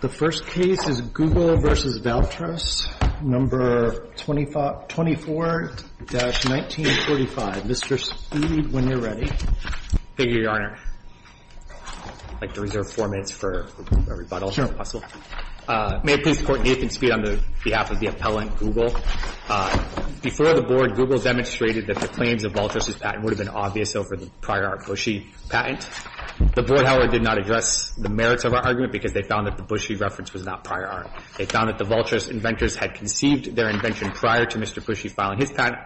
The first case is Google v. Valtrus, No. 24-1945. Mr. Speed, when you're ready. Thank you, Your Honor. I'd like to reserve four minutes for a rebuttal, if possible. May it please the Court, Nathan Speed on behalf of the appellant, Google. Before the Board, Google demonstrated that the claims of Valtrus' patent would have been obvious over the prior art Bushy patent. The Board, however, did not address the merits of our argument because they found that the Bushy reference was not prior art. They found that the Valtrus inventors had conceived their invention prior to Mr. Bushy filing his patent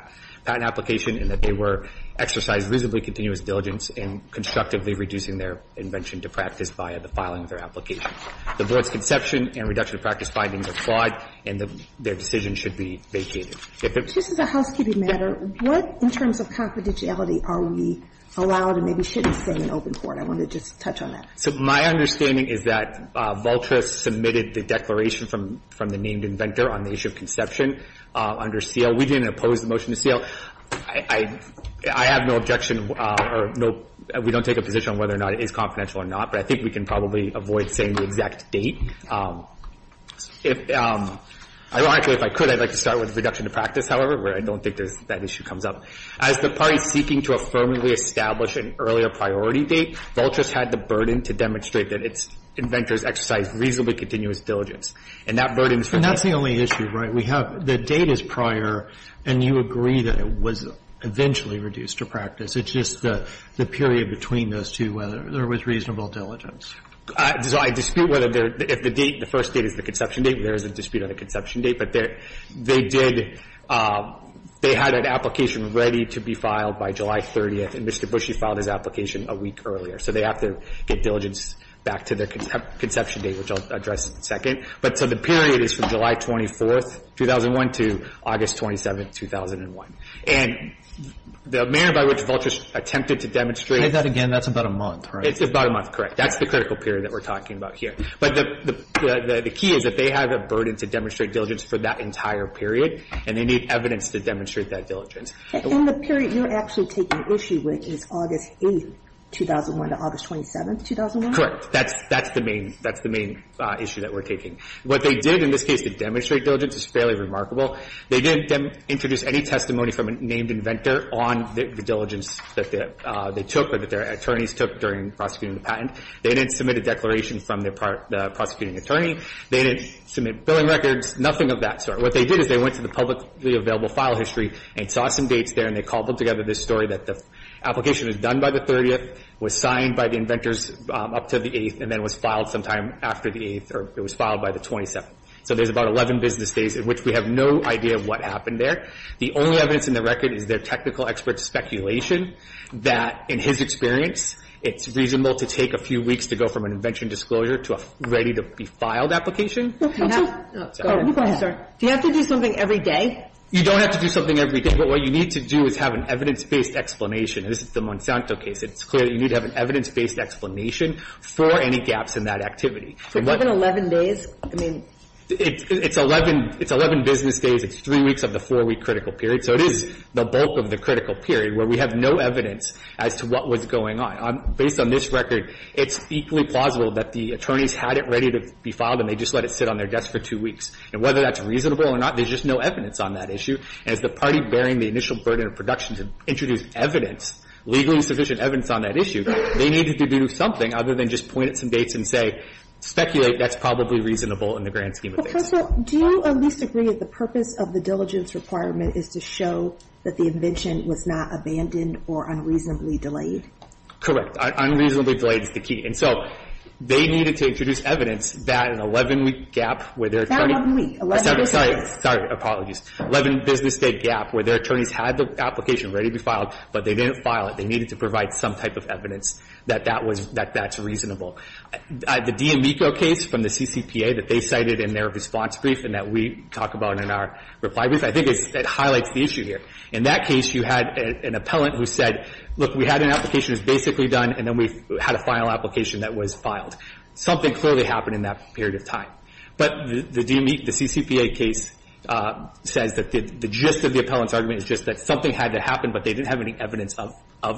application and that they were exercising reasonably continuous diligence in constructively reducing their invention to practice via the filing of their application. The Board's conception and reduction of practice findings are flawed and their decision should be vacated. Just as a housekeeping matter, what in terms of confidentiality are we allowed and maybe shouldn't say in open court? I want to just touch on that. So my understanding is that Valtrus submitted the declaration from the named inventor on the issue of conception under seal. We didn't oppose the motion to seal. I have no objection or we don't take a position on whether or not it is confidential or not, but I think we can probably avoid saying the exact date. Ironically, if I could, I'd like to start with reduction to practice, however, where I don't think that issue comes up. As the parties seeking to affirmably establish an earlier priority date, Valtrus had the burden to demonstrate that its inventors exercised reasonably continuous diligence. And that burden is for me. And that's the only issue, right? We have the date as prior, and you agree that it was eventually reduced to practice. It's just the period between those two, whether there was reasonable diligence. So I dispute whether if the date, the first date is the conception date, there is a dispute on the conception date, but they did, they had an application ready to be filed by July 30th, and Mr. Bushee filed his application a week earlier. So they have to get diligence back to their conception date, which I'll address in a second. But so the period is from July 24th, 2001 to August 27th, 2001. And the manner by which Valtrus attempted to demonstrate. I'll say that again. That's about a month, right? It's about a month, correct. That's the critical period that we're talking about here. But the key is that they have a burden to demonstrate diligence for that entire period, and they need evidence to demonstrate that diligence. And the period you're actually taking issue with is August 8th, 2001 to August 27th, 2001? Correct. That's the main issue that we're taking. What they did in this case to demonstrate diligence is fairly remarkable. They didn't introduce any testimony from a named inventor on the diligence that they took or that their attorneys took during prosecuting the patent. They didn't submit a declaration from the prosecuting attorney. They didn't submit billing records, nothing of that sort. What they did is they went to the publicly available file history and saw some dates there, and they cobbled together this story that the application was done by the 30th, was signed by the inventors up to the 8th, and then was filed sometime after the 8th or it was filed by the 27th. So there's about 11 business days in which we have no idea what happened there. The only evidence in the record is their technical expert's speculation that, in his experience, it's reasonable to take a few weeks to go from an invention disclosure to a ready-to-be-filed application. Go ahead. Do you have to do something every day? You don't have to do something every day. But what you need to do is have an evidence-based explanation. This is the Monsanto case. It's clear that you need to have an evidence-based explanation for any gaps in that activity. So given 11 days, I mean — It's 11 business days. It's three weeks of the four-week critical period. So it is the bulk of the critical period where we have no evidence as to what was going on. Based on this record, it's equally plausible that the attorneys had it ready to be filed and they just let it sit on their desk for two weeks. And whether that's reasonable or not, there's just no evidence on that issue. And as the party bearing the initial burden of production to introduce evidence, legally sufficient evidence on that issue, they needed to do something other than just point at some dates and say, speculate, that's probably reasonable in the grand scheme of things. Professor, do you at least agree that the purpose of the diligence requirement is to show that the invention was not abandoned or unreasonably delayed? Correct. Unreasonably delayed is the key. And so they needed to introduce evidence that an 11-week gap where their attorney That 11-week. Sorry. Sorry. Apologies. 11 business day gap where their attorneys had the application ready to be filed, but they didn't file it. They needed to provide some type of evidence that that was – that that's reasonable. The D'Amico case from the CCPA that they cited in their response brief and that we talk about in our reply brief, I think it's – it highlights the issue here. In that case, you had an appellant who said, look, we had an application that's basically done, and then we had a final application that was filed. Something clearly happened in that period of time. But the D'Amico – the CCPA case says that the gist of the appellant's argument is just that something had to happen, but they didn't have any evidence of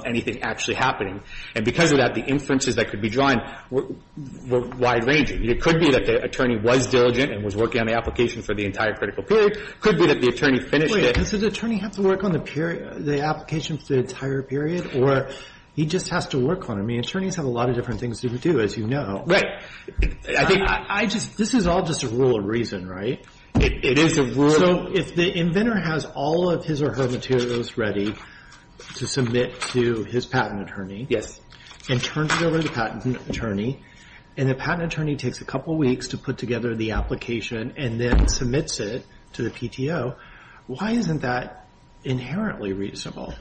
anything actually happening. And because of that, the inferences that could be drawn were wide-ranging. It could be that the attorney was diligent and was working on the application for the entire critical period. It could be that the attorney finished it. Does the attorney have to work on the period – the application for the entire period, or he just has to work on it? I mean, attorneys have a lot of different things to do, as you know. Right. I think I just – this is all just a rule of reason, right? It is a rule. So if the inventor has all of his or her materials ready to submit to his patent attorney and turns it over to the patent attorney, and the patent attorney takes a couple weeks to put together the application and then submits it to the PTO, why isn't that inherently reasonable?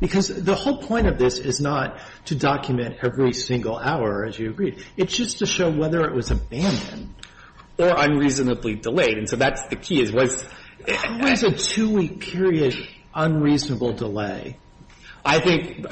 Because the whole point of this is not to document every single hour, as you agreed. It's just to show whether it was abandoned or unreasonably delayed. And so that's the key, is what's – What is a two-week period unreasonable delay? I think,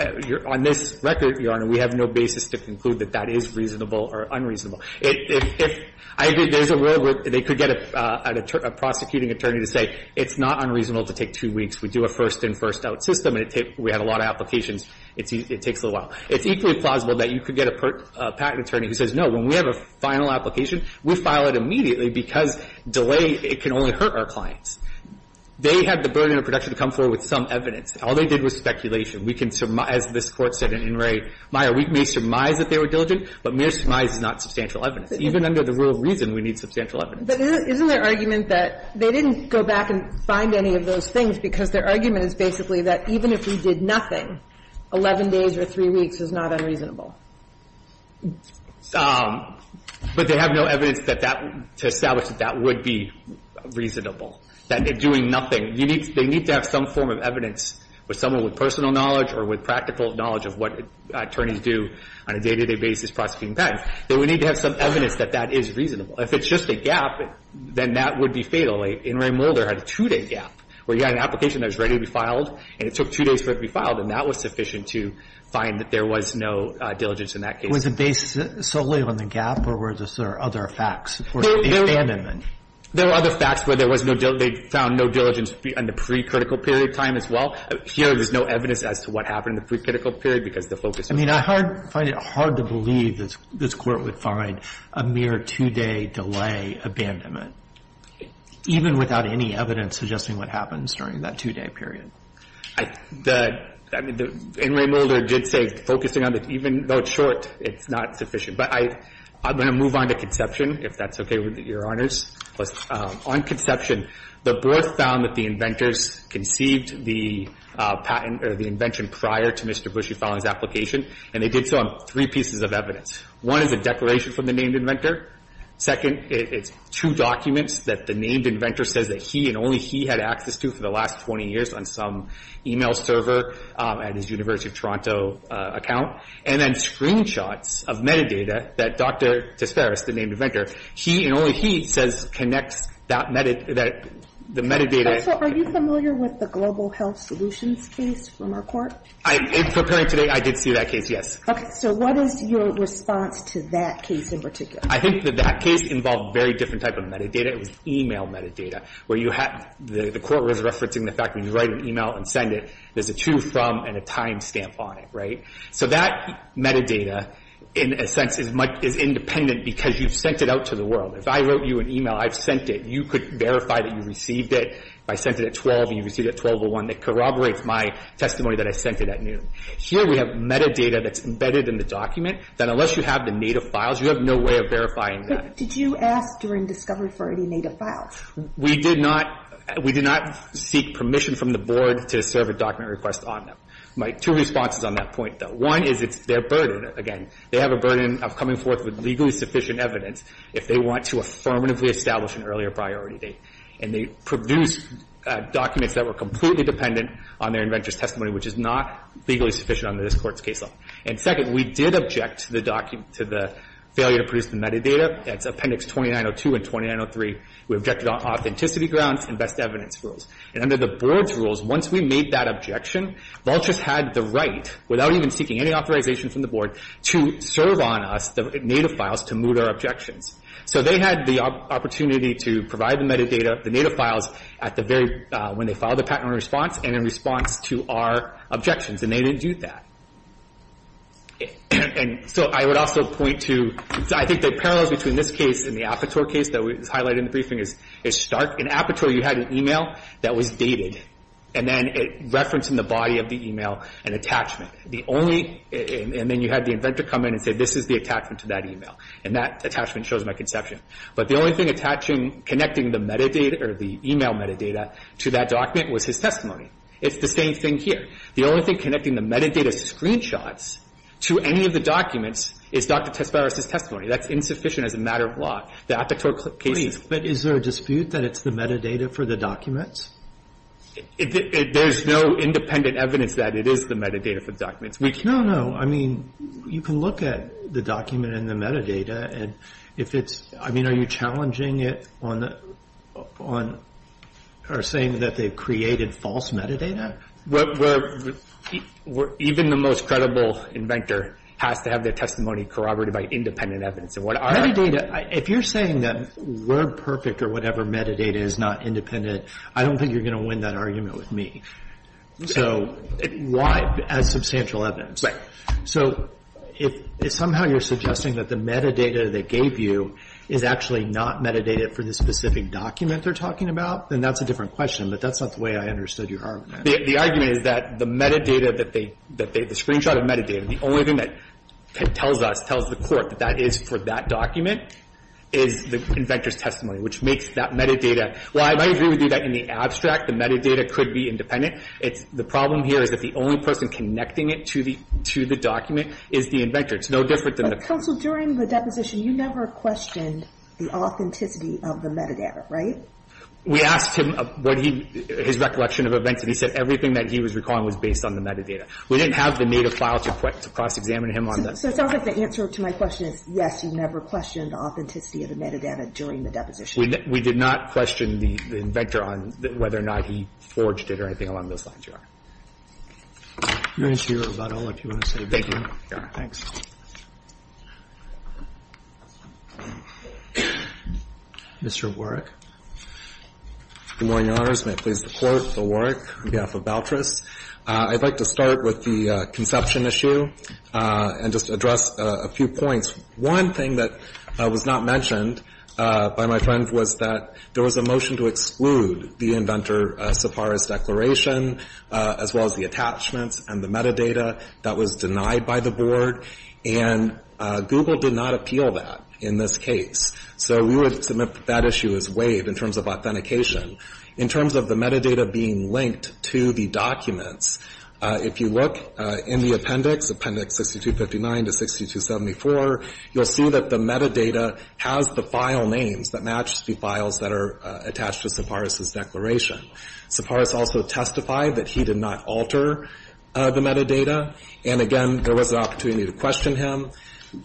on this record, Your Honor, we have no basis to conclude that that is reasonable or unreasonable. If – I agree, there's a rule where they could get a prosecuting attorney to say, it's not unreasonable to take two weeks. We do a first-in, first-out system, and we have a lot of applications. It takes a little while. It's equally plausible that you could get a patent attorney who says, no, when we have a final application, we file it immediately because delay, it can only hurt our clients. They have the burden of protection to come forward with some evidence. All they did was speculation. We can – as this Court said in In re Maia, we may surmise that they were diligent, but mere surmise is not substantial evidence. Even under the rule of reason, we need substantial evidence. But isn't their argument that they didn't go back and find any of those things because their argument is basically that even if we did nothing, 11 days or three weeks is not unreasonable? But they have no evidence that that – to establish that that would be reasonable, that doing nothing – you need – they need to have some form of evidence with someone with personal knowledge or with practical knowledge of what attorneys do on a day-to-day basis prosecuting patents. They would need to have some evidence that that is reasonable. If it's just a gap, then that would be fatal. In re Maia, In re Mulder had a two-day gap, where you had an application that was ready to be filed, and it took two days for it to be filed, and that was sufficient to find that there was no diligence in that case. Was it based solely on the gap, or were there other facts? There were other facts where there was no – they found no diligence in the pre-critical period time as well. Here, there's no evidence as to what happened in the pre-critical period because the focus was on the gap. I mean, I find it hard to believe that this Court would find a mere two-day delay abandonment. Even without any evidence suggesting what happened during that two-day period. The – I mean, In re Mulder did say focusing on the – even though it's short, it's not sufficient. But I'm going to move on to Conception, if that's okay with Your Honors. On Conception, the board found that the inventors conceived the patent or the invention prior to Mr. Bushey filing his application, and they did so on three pieces of evidence. One is a declaration from the named inventor. Second, it's two documents that the named inventor says that he and only he had access to for the last 20 years on some e-mail server at his University of Toronto account. And then screenshots of metadata that Dr. Tesfaris, the named inventor, he and only he says connects that – that the metadata. So are you familiar with the Global Health Solutions case from our Court? In preparing today, I did see that case, yes. Okay. So what is your response to that case in particular? I think that that case involved a very different type of metadata. It was e-mail metadata, where you had – the Court was referencing the fact that you write an e-mail and send it. There's a to, from, and a time stamp on it, right? So that metadata, in a sense, is independent because you've sent it out to the world. If I wrote you an e-mail, I've sent it. You could verify that you received it. If I sent it at 12 and you received it at 12 to 1, that corroborates my testimony that I sent it at noon. Here we have metadata that's embedded in the document that unless you have the native file, you can't verify that. But did you ask during discovery for any native files? We did not – we did not seek permission from the Board to serve a document request on them. My two responses on that point, though. One is it's their burden. Again, they have a burden of coming forth with legally sufficient evidence if they want to affirmatively establish an earlier priority date. And they produced documents that were completely dependent on their inventor's testimony, which is not legally sufficient under this Court's case law. And second, we did object to the document – to the failure to produce the metadata. That's Appendix 2902 and 2903. We objected on authenticity grounds and best evidence rules. And under the Board's rules, once we made that objection, Vultures had the right, without even seeking any authorization from the Board, to serve on us the native files to moot our objections. So they had the opportunity to provide the metadata, the native files, at the very – when they filed the patent on response and in response to our objections. And they didn't do that. And so I would also point to – I think the parallels between this case and the Apatow case that was highlighted in the briefing is stark. In Apatow, you had an email that was dated. And then it referenced in the body of the email an attachment. The only – and then you had the inventor come in and say, this is the attachment to that email. And that attachment shows my conception. But the only thing attaching – connecting the metadata or the email metadata to that document was his testimony. It's the same thing here. The only thing connecting the metadata screenshots to any of the documents is Dr. Tesparos's testimony. That's insufficient as a matter of law. The Apatow case is – Roberts, but is there a dispute that it's the metadata for the documents? There's no independent evidence that it is the metadata for the documents. We can – No, no. I mean, you can look at the document and the metadata, and if it's – I mean, are you challenging it on the – on – or saying that they've created false metadata? We're – even the most credible inventor has to have their testimony corroborated by independent evidence. And what our – Metadata – if you're saying that WordPerfect or whatever metadata is not independent, I don't think you're going to win that argument with me. So why – as substantial evidence. Right. So if somehow you're suggesting that the metadata they gave you is actually not metadata for the specific document they're talking about, then that's a different question. But that's not the way I understood your argument. The argument is that the metadata that they – the screenshot of metadata, the only thing that tells us, tells the court, that that is for that document, is the inventor's testimony, which makes that metadata – well, I might agree with you that in the abstract, the metadata could be independent. It's – the problem here is that the only person connecting it to the – to the document is the inventor. It's no different than a – But, counsel, during the deposition, you never questioned the authenticity of the metadata, right? We asked him what he – his recollection of events, and he said everything that he was recalling was based on the metadata. We didn't have the native file to cross-examine him on that. So it sounds like the answer to my question is, yes, you never questioned the authenticity of the metadata during the deposition. We did not question the inventor on whether or not he forged it or anything along those lines, Your Honor. You're going to see your rebuttal if you want to say anything. Thank you, Your Honor. Thanks. Mr. Warrick. Good morning, Your Honors. May it please the Court. Bill Warrick on behalf of Boutrous. I'd like to start with the conception issue and just address a few points. One thing that was not mentioned by my friend was that there was a motion to exclude the inventor so far as declaration, as well as the attachments and the metadata that was denied by the Board, and Google did not appeal that in this case. So we would submit that issue as waived in terms of authentication. In terms of the metadata being linked to the documents, if you look in the appendix, appendix 6259 to 6274, you'll see that the metadata has the file names that match the files that are attached to Tsipras's declaration. Tsipras also testified that he did not alter the metadata. And again, there was an opportunity to question him.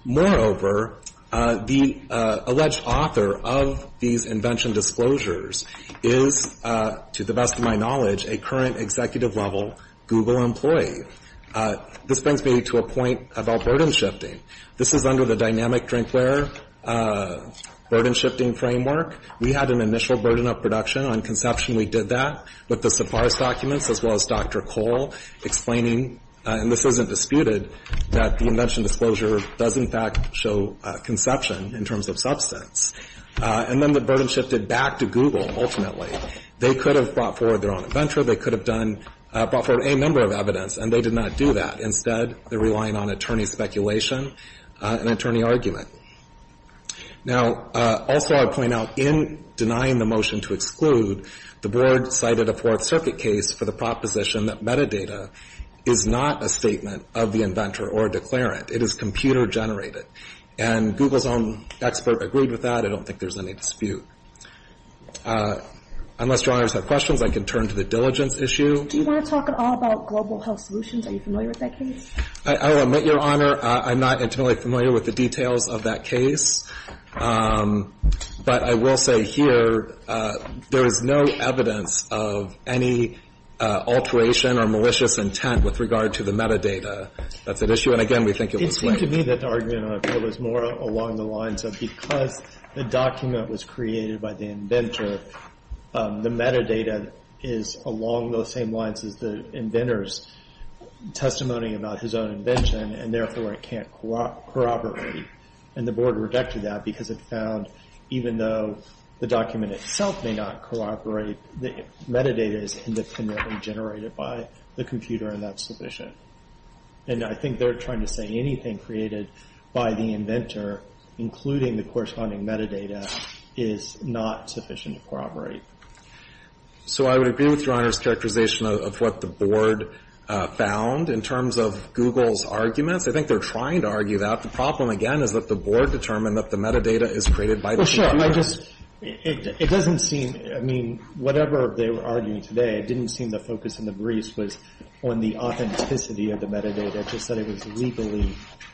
Moreover, the alleged author of these invention disclosures is, to the best of my knowledge, a current executive-level Google employee. This brings me to a point about burden shifting. This is under the dynamic drinkware burden shifting framework. We had an initial burden of production. On conception, we did that with the Tsipras documents, as well as Dr. Cole, explaining, and this isn't disputed, that the invention disclosure does, in fact, show conception in terms of substance. And then the burden shifted back to Google, ultimately. They could have brought forward their own inventor. They could have brought forward a number of evidence, and they did not do that. Instead, they're relying on attorney speculation and attorney argument. Now, also I'll point out, in denying the motion to exclude, the Board cited a Fourth Circuit case for the proposition that metadata is not a statement of the inventor or declarant. It is computer-generated. And Google's own expert agreed with that. I don't think there's any dispute. Unless Your Honors have questions, I can turn to the diligence issue. Do you want to talk at all about Global Health Solutions? Are you familiar with that case? I will admit, Your Honor, I'm not entirely familiar with the details of that case. But I will say here, there is no evidence of any alteration or malicious intent with regard to the metadata that's at issue. And, again, we think it was linked. It seemed to me that the argument was more along the lines of because the document was created by the inventor, the metadata is along those same lines as the inventor's testimony about his own invention, and therefore it can't corroborate. And the Board rejected that because it found, even though the document itself may not corroborate, the metadata is independently generated by the computer, and that's sufficient. And I think they're trying to say anything created by the inventor, including the corresponding metadata, is not sufficient to corroborate. So I would agree with Your Honor's characterization of what the Board found in terms of Google's arguments. I think they're trying to argue that. The problem, again, is that the Board determined that the metadata is created by the computer. Well, sure. I just, it doesn't seem, I mean, whatever they were arguing today, it didn't seem the focus in the briefs was on the authenticity of the metadata, just that it was legally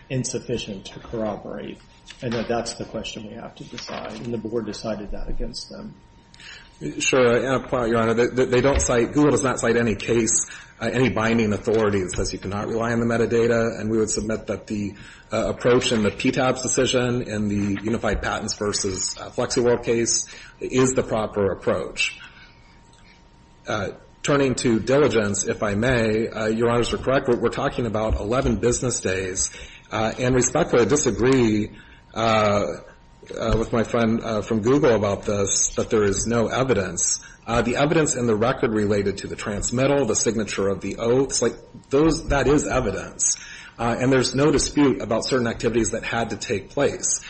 insufficient to corroborate, and that that's the question we have to decide. And the Board decided that against them. Sure. And I'll point out, Your Honor, they don't cite, Google does not cite any case, any binding authority that says you cannot rely on the metadata. And we would submit that the approach in the PTAB's decision, in the Unified Patents v. FlexiWorld case, is the proper approach. Turning to diligence, if I may, Your Honors are correct. We're talking about 11 business days. And respectfully, I disagree with my friend from Google about this, that there is no evidence. The evidence in the record related to the transmittal, the signature of the oaths, like those, that is evidence. And there's no dispute about certain activities that had to take place.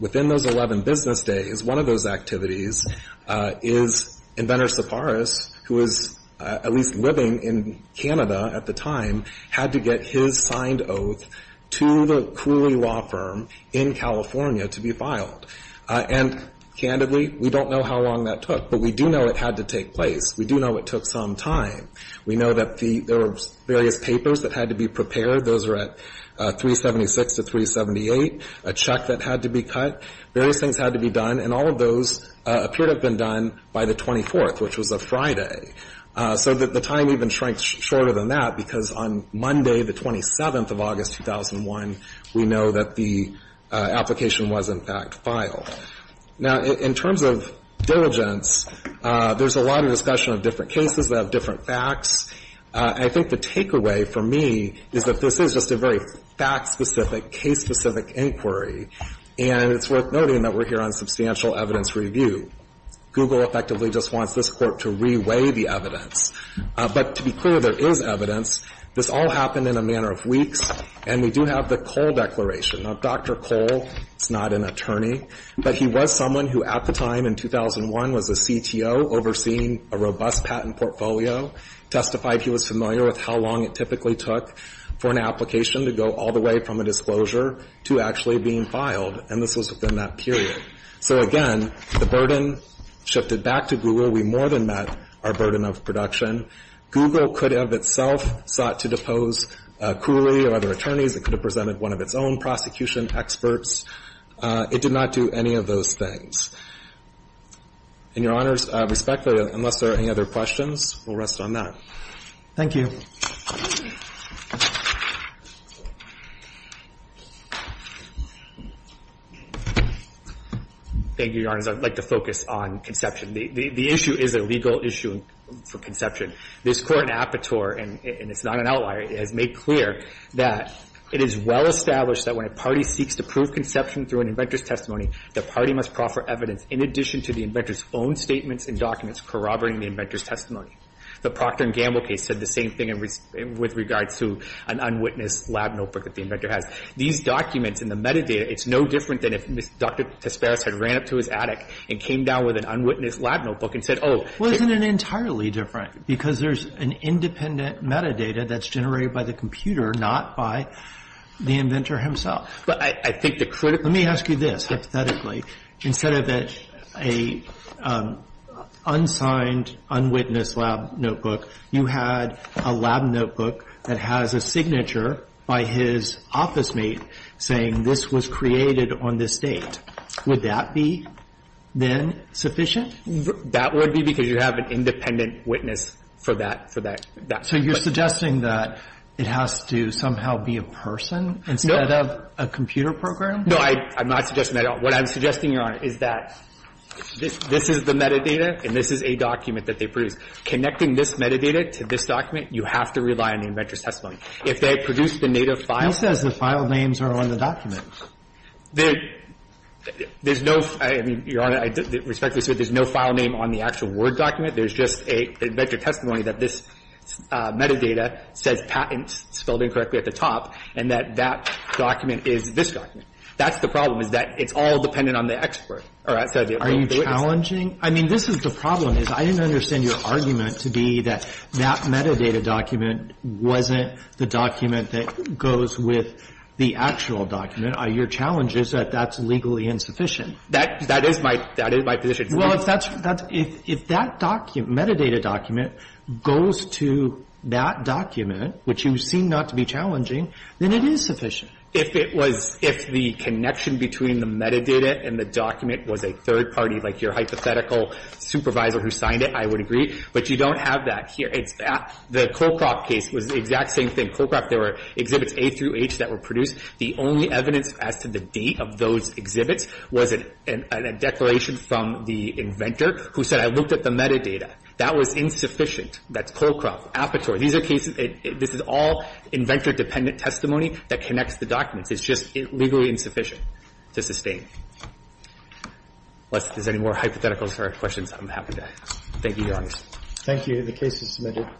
Within those 11 business days, one of those activities is Inventor Sepharis, who was at least living in Canada at the time, had to get his signed oath to the Cooley law firm in California to be filed. And candidly, we don't know how long that took, but we do know it had to take place. We do know it took some time. We know that there were various papers that had to be prepared. Those were at 376 to 378, a check that had to be cut. Various things had to be done. And all of those appeared to have been done by the 24th, which was a Friday. So the time even shrank shorter than that, because on Monday, the 27th of August 2001, we know that the application was, in fact, filed. Now, in terms of diligence, there's a lot of discussion of different cases that have different facts. I think the takeaway for me is that this is just a very fact-specific, case-specific inquiry. And it's worth noting that we're here on substantial evidence review. Google effectively just wants this Court to reweigh the evidence. But to be clear, there is evidence. This all happened in a matter of weeks. And we do have the Cole Declaration. Now, Dr. Cole is not an attorney, but he was someone who at the time, in 2001, was a CTO overseeing a robust patent portfolio, testified he was familiar with how long it typically took for an application to go all the way from a disclosure to actually being filed. And this was within that period. So, again, the burden shifted back to Google. We more than met our burden of production. Google could have itself sought to depose Cooley or other attorneys. It could have presented one of its own prosecution experts. It did not do any of those things. And, Your Honors, respectfully, unless there are any other questions, we'll rest on that. Thank you. Thank you, Your Honors. I'd like to focus on conception. The issue is a legal issue for conception. This Court in Apatow, and it's not an outlier, has made clear that it is well established that when a party seeks to prove conception through an inventor's testimony, the party must proffer evidence in addition to the inventor's own statements and documents corroborating the inventor's testimony. The Procter & Gamble case said the same thing with regards to an unwitnessed lab notebook that the inventor has. These documents and the metadata, it's no different than if Dr. Tesparas had ran up to his attic and came down with an unwitnessed lab notebook and said, oh. Wasn't it entirely different? Because there's an independent metadata that's generated by the computer, not by the inventor himself. Let me ask you this, hypothetically. Instead of an unsigned, unwitnessed lab notebook, you had a lab notebook that has a signature by his office mate saying this was created on this date. Would that be, then, sufficient? That would be because you have an independent witness for that. So you're suggesting that it has to somehow be a person instead of a lab notebook? A computer program? No, I'm not suggesting that at all. What I'm suggesting, Your Honor, is that this is the metadata and this is a document that they produced. Connecting this metadata to this document, you have to rely on the inventor's If they produced the native file ---- Who says the file names are on the document? There's no ---- I mean, Your Honor, I respect this, but there's no file name on the actual Word document. There's just an inventor's testimony that this metadata says patents, spelled incorrectly at the top, and that that document is this document. That's the problem, is that it's all dependent on the expert. Are you challenging? I mean, this is the problem, is I didn't understand your argument to be that that metadata document wasn't the document that goes with the actual document. Your challenge is that that's legally insufficient. That is my position. Well, if that's ---- if that document, metadata document, goes to that document, which you seem not to be challenging, then it is sufficient. If it was ---- if the connection between the metadata and the document was a third party, like your hypothetical supervisor who signed it, I would agree. But you don't have that here. It's that ---- the Colcroft case was the exact same thing. Colcroft, there were exhibits A through H that were produced. The only evidence as to the date of those exhibits was a declaration from the inventor who said, I looked at the metadata. That was insufficient. That's Colcroft, Apatory. These are cases ---- this is all inventor-dependent testimony that connects the documents. It's just legally insufficient to sustain. Unless there's any more hypotheticals or questions, I'm happy to ask. Thank you, Your Honors. Thank you. The case is submitted.